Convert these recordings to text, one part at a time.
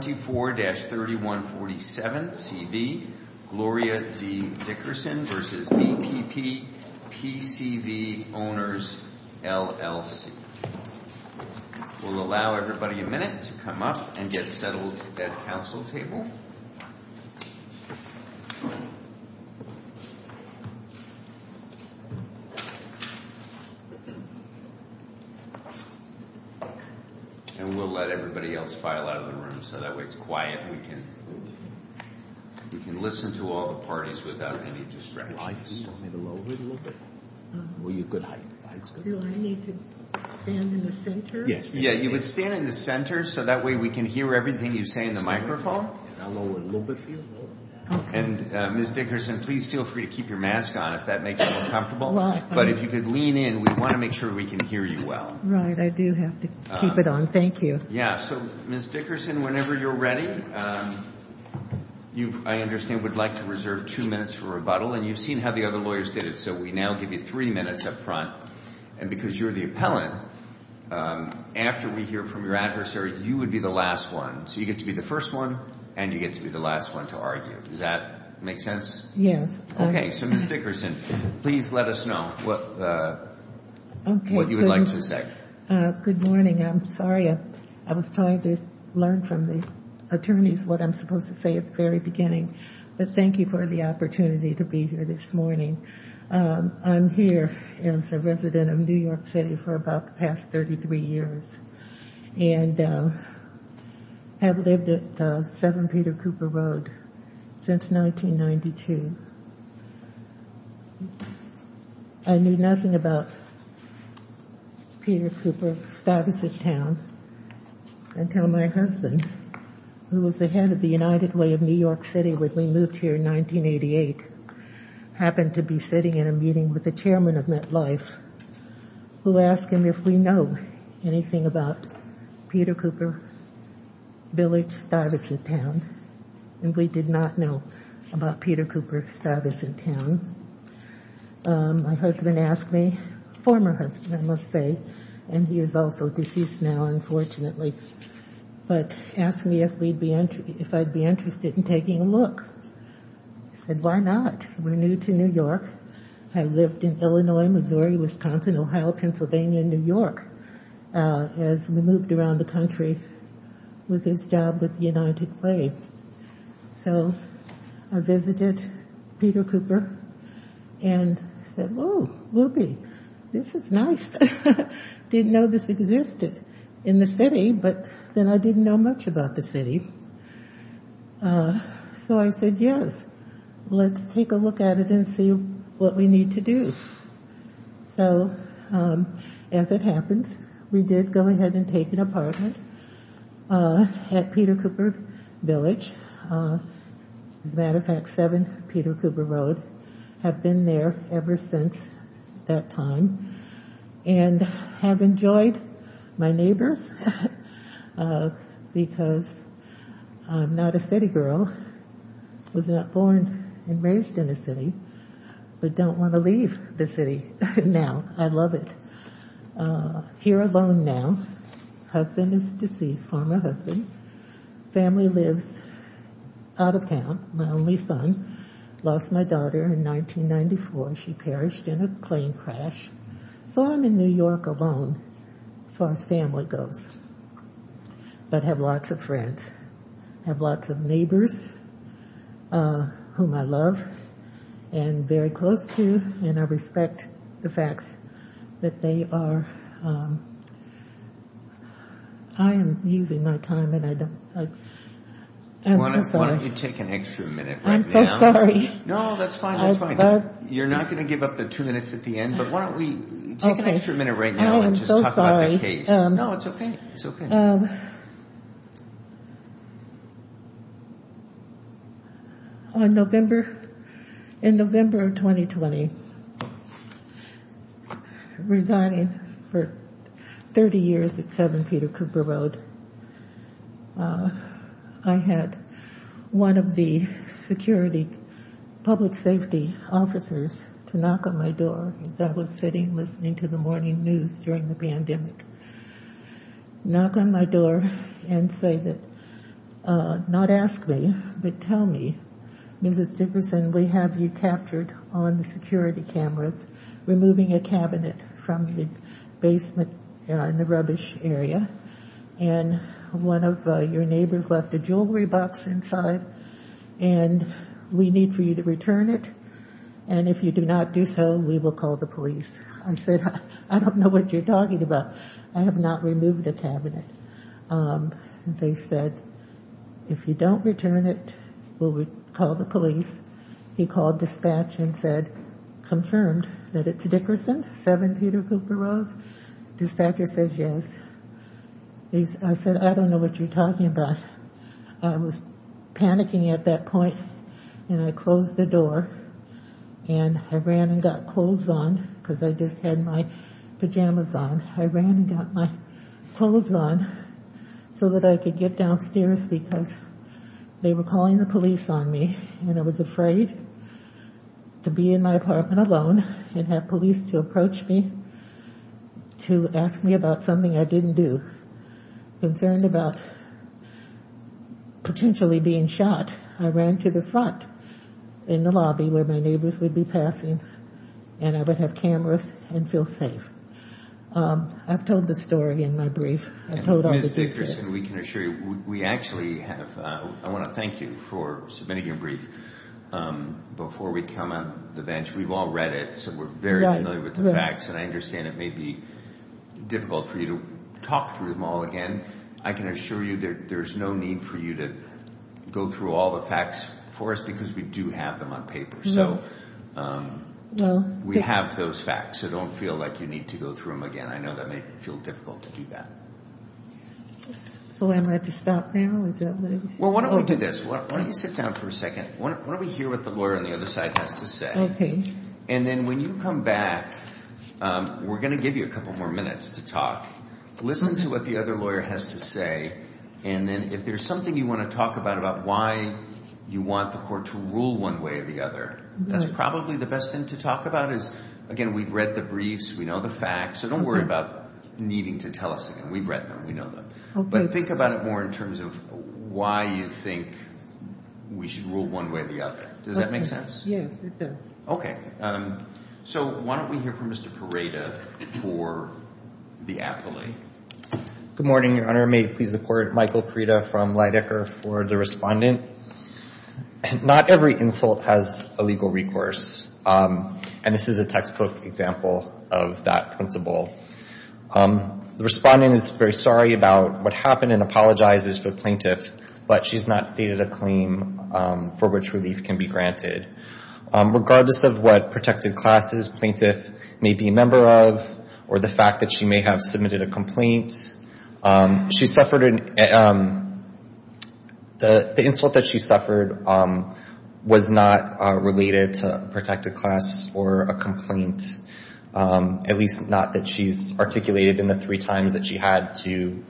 24-3147 C.B. Gloria D. Dickerson v. BPP PCV Owners LLC We'll allow everybody a minute to come up and get settled at the council table. And we'll let everybody else file out of the room so that way it's quiet and we can listen to all the parties without any distractions. And Ms. Dickerson, please feel free to keep your mask on if that makes you more comfortable. But if you could lean in, we want to make sure we can hear you well. Right, I do have to keep it on. Thank you. Yeah, so Ms. Dickerson, whenever you're ready, I understand you would like to reserve two minutes for rebuttal. And you've seen how the other lawyers did it, so we now give you three minutes up front. And because you're the appellant, after we hear from your adversary, you would be the last one. So you get to be the first one and you get to be the last one to argue. Does that make sense? Yes. Okay, so Ms. Dickerson, please let us know what you would like to say. Good morning. I'm sorry. I was trying to learn from the attorneys what I'm supposed to say at the very beginning. But thank you for the opportunity to be here this morning. I'm here as a resident of New York City for about the past 33 years and have lived at 7 Peter Cooper Road since 1992. I knew nothing about Peter Cooper, Stuyvesant Town until my husband, who was the head of the United Way of New York City when we moved here in 1988, happened to be sitting in a meeting with the chairman of MetLife, who asked him if we know anything about Peter Cooper Village, Stuyvesant Town. And we did not know about Peter Cooper, Stuyvesant Town. My husband asked me, former husband, I must say, and he is also deceased now, unfortunately, but asked me if I'd be interested in taking a look. I said, why not? We're new to New York. I lived in Illinois, Missouri, Wisconsin, Ohio, Pennsylvania, New York. As we moved around the country with his job with the United Way. So I visited Peter Cooper and said, oh, whoopee, this is nice. Didn't know this existed in the city, but then I didn't know much about the city. So I said, yes, let's take a look at it and see what we need to do. So as it happens, we did go ahead and take an apartment at Peter Cooper Village. As a matter of fact, 7 Peter Cooper Road. Have been there ever since that time. And have enjoyed my neighbors because I'm not a city girl. Was not born and raised in a city, but don't want to leave the city now. I love it. Here alone now. Husband is deceased, former husband. Family lives out of town. My only son. Lost my daughter in 1994. She perished in a plane crash. So I'm in New York alone as far as family goes. But have lots of friends. Have lots of neighbors. Whom I love. And very close to. And I respect the fact that they are. I am using my time and I don't. I'm so sorry. Why don't you take an extra minute right now. I'm so sorry. No, that's fine, that's fine. You're not going to give up the two minutes at the end. But why don't we take an extra minute right now and just talk about the case. No, it's okay. It's okay. On November. In November of 2020. Resigning for 30 years at 7 Peter Cooper Road. I had. One of the security. Public safety officers to knock on my door. As I was sitting, listening to the morning news during the pandemic. Knock on my door and say that. Not ask me, but tell me. Mrs. Dickerson, we have you captured on the security cameras. We need for you to return it. And if you do not do so, we will call the police. I said. I don't know what you're talking about. I have not removed the cabinet. They said. If you don't return it. We'll call the police. He called dispatch and said. Confirmed. 7 Peter Cooper roads. Dispatcher says yes. I said, I don't know what you're talking about. I was panicking at that point. And I closed the door. And I ran and got clothes on because I just had my pajamas on. I ran and got my clothes on. So that I could get downstairs because. They were calling the police on me and I was afraid. To be in my apartment alone and have police to approach me. To ask me about something I didn't do. Concerned about. Potentially being shot. I ran to the front. In the lobby where my neighbors would be passing. And I would have cameras and feel safe. I've told the story in my brief. We can assure you. We actually have. I want to thank you for submitting your brief. Before we come on the bench. We've all read it. So we're very familiar with the facts and I understand it may be. Difficult for you to talk through them all again. I can assure you there. There's no need for you to. Go through all the facts for us because we do have them on paper. So. Well, we have those facts. I don't feel like you need to go through them again. I know that may feel difficult to do that. So am I to stop now? Well, why don't we do this? Why don't you sit down for a second? Why don't we hear what the lawyer on the other side has to say? Okay. And then when you come back. We're going to give you a couple more minutes to talk. Listen to what the other lawyer has to say. And then if there's something you want to talk about about why. You want the court to rule one way or the other. That's probably the best thing to talk about is. Again, we've read the briefs. We know the facts. So don't worry about needing to tell us again. We've read them. We know them. But think about it more in terms of why you think we should rule one way or the other. Does that make sense? Yes, it does. Okay. So why don't we hear from Mr. Parada for the appellate. Good morning, Your Honor. May it please the court. Michael Parada from Leidecker for the respondent. Not every insult has a legal recourse. And this is a textbook example of that principle. The respondent is very sorry about what happened and apologizes for the plaintiff, but she's not stated a claim for which relief can be granted. Regardless of what protected classes the plaintiff may be a member of or the fact that she may have submitted a complaint, the insult that she suffered was not related to a protected class or a complaint, at least not that she's articulated in the three times that she had to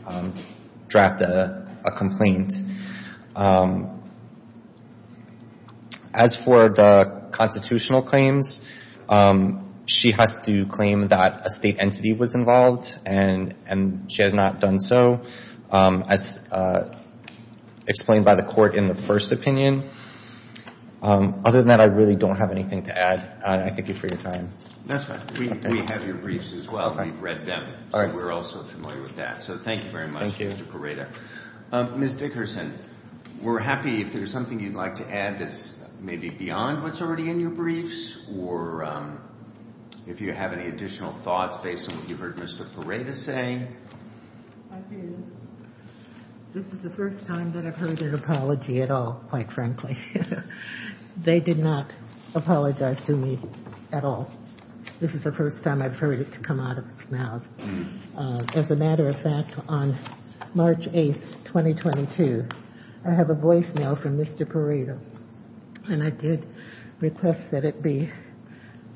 draft a complaint. As for the constitutional claims, she has to claim that a state entity was involved and she has not done so as explained by the court in the first opinion. Other than that, I really don't have anything to add. And I thank you for your time. That's fine. We have your briefs as well. We've read them. So we're also familiar with that. So thank you very much, Mr. Parada. Thank you. Ms. Dickerson, we're happy if there's something you'd like to add that's maybe beyond what's already in your briefs or if you have any additional thoughts based on what you've heard Mr. Parada say. This is the first time that I've heard an apology at all, quite frankly. They did not apologize to me at all. This is the first time I've heard it come out of its mouth. As a matter of fact, on March 8, 2022, I have a voicemail from Mr. Parada and I did request that it be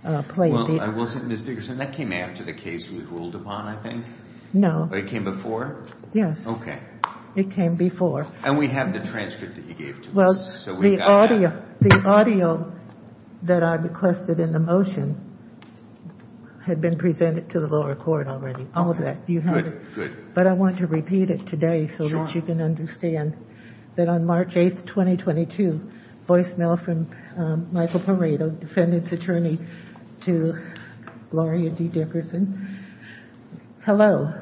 played. Well, I wasn't, Ms. Dickerson, that came after the case was ruled upon, I think? No. But it came before? Yes. Okay. It came before. And we have the transcript that you gave to us. Well, the audio that I requested in the motion had been presented to the lower court already. All of that, you heard it. Good, good. But I want to repeat it today so that you can understand that on March 8, 2022, voicemail from Michael Parada, defendant's attorney to Gloria D. Dickerson. Hello.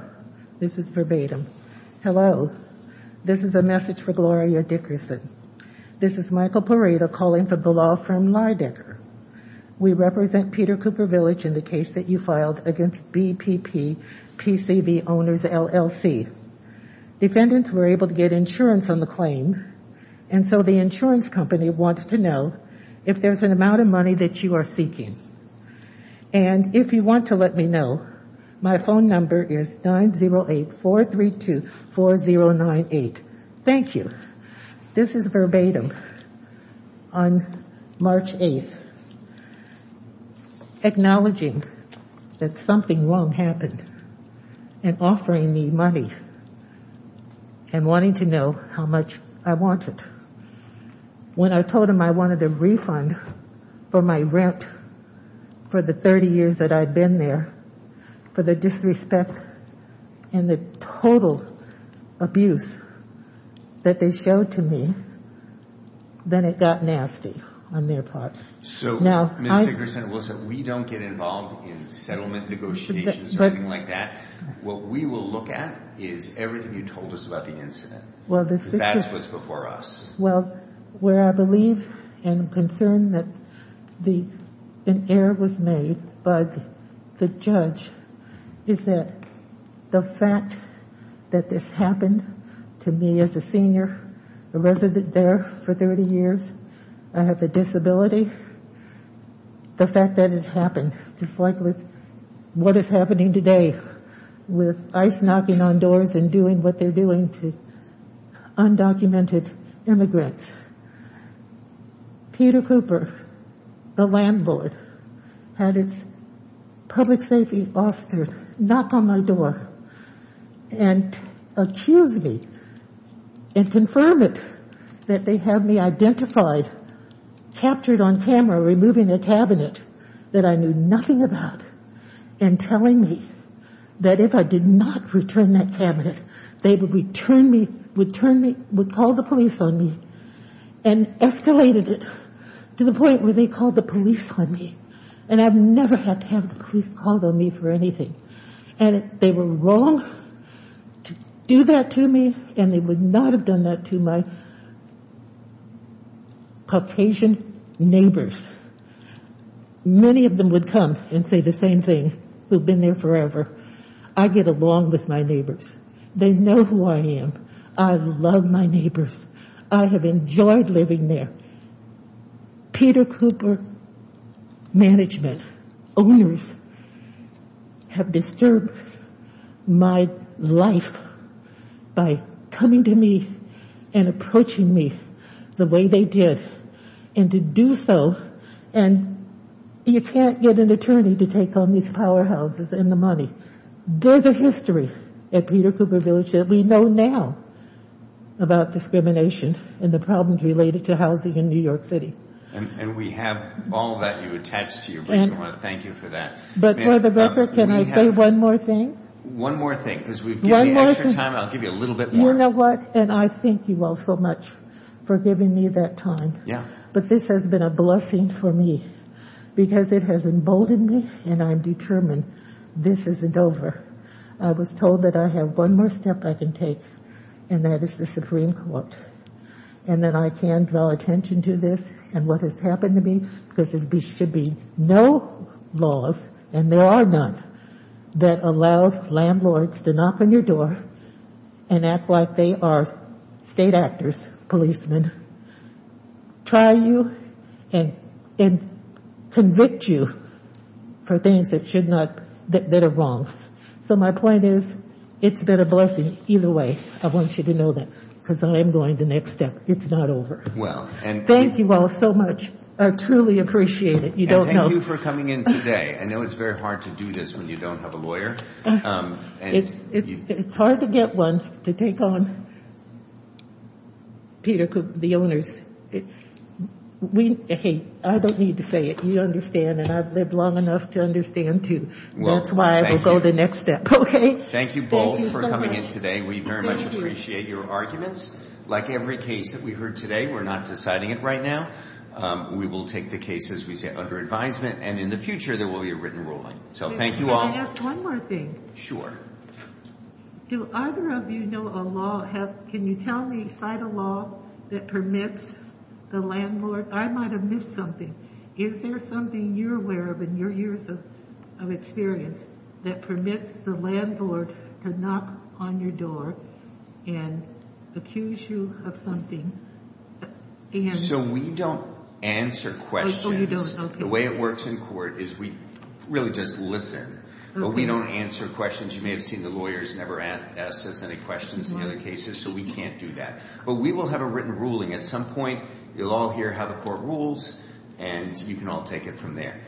This is verbatim. Hello. This is a message for Gloria Dickerson. This is Michael Parada calling from the law firm Leidecker. We represent Peter Cooper Village in the case that you filed against BPP PCV owners LLC. Defendants were able to get insurance on the claim. And so the insurance company wants to know if there's an amount of money that you are seeking. And if you want to let me know, my phone number is 908-432-4098. Thank you. This is verbatim on March 8th. Acknowledging that something wrong happened and offering me money and wanting to know how much I wanted. When I told them I wanted a refund for my rent for the 30 years that I'd been there for the disrespect and the total abuse that they showed to me, then it got nasty on their part. So, Ms. Dickerson, listen, we don't get involved in settlement negotiations or anything like that. What we will look at is everything you told us about the incident. That's what's before us. Well, where I believe and am concerned that an error was made by the judge is that the fact that this happened to me as a senior, a resident there for 30 years, I have a disability. The fact that it happened, just like with what is happening today with ICE knocking on doors and doing what they're doing to undocumented immigrants. Peter Cooper, the landlord, had its public safety officer knock on my door and accuse me and confirm it, that they have me identified, captured on camera, removing a cabinet that I knew nothing about and telling me that if I did not return that cabinet, they would call the police on me and escalated it to the point where they called the police on me. And I've never had to have the police called on me for anything. And they were wrong to do that to me and they would not have done that to my Caucasian neighbors. Many of them would come and say the same thing, who've been there forever. I get along with my neighbors. They know who I am. I love my neighbors. I have enjoyed living there. Peter Cooper management owners have disturbed my life by coming to me and approaching me the way they did. And to do so, and you can't get an attorney to take on these powerhouses and the money. There's a history at Peter Cooper Village that we know now about discrimination and the problems related to housing in New York City. And we have all that you attach to your record. Thank you for that. But for the record, can I say one more thing? One more thing, because we've given you extra time. I'll give you a little bit more. You know what? And I thank you all so much for giving me that time. But this has been a blessing for me. Because it has emboldened me and I'm determined this isn't over. I was told that I have one more step I can take. And that is the Supreme Court. And that I can draw attention to this and what has happened to me. Because there should be no laws, and there are none, that allow landlords to knock on your door and act like they are state actors, policemen. Try you and convict you for things that should not, that are wrong. So my point is, it's been a blessing either way. I want you to know that. Because I am going the next step. It's not over. Thank you all so much. I truly appreciate it. You don't know. And thank you for coming in today. I know it's very hard to do this when you don't have a lawyer. It's hard to get one to take on Peter Cook, the owners. Hey, I don't need to say it. You understand and I've lived long enough to understand too. That's why I will go the next step. Thank you both for coming in today. We very much appreciate your arguments. Like every case that we heard today, we're not deciding it right now. We will take the cases we see under advisement. And in the future, there will be a written ruling. So thank you all. Can I ask one more thing? Sure. Do either of you know a law? Can you tell me, cite a law that permits the landlord? I might have missed something. Is there something you're aware of in your years of experience that permits the landlord to knock on your door and accuse you of something? So we don't answer questions. The way it works in court is we really just listen. But we don't answer questions. You may have seen the lawyers never ask us any questions in other cases. So we can't do that. But we will have a written ruling. At some point, you'll all hear how the court rules and you can all take it from there.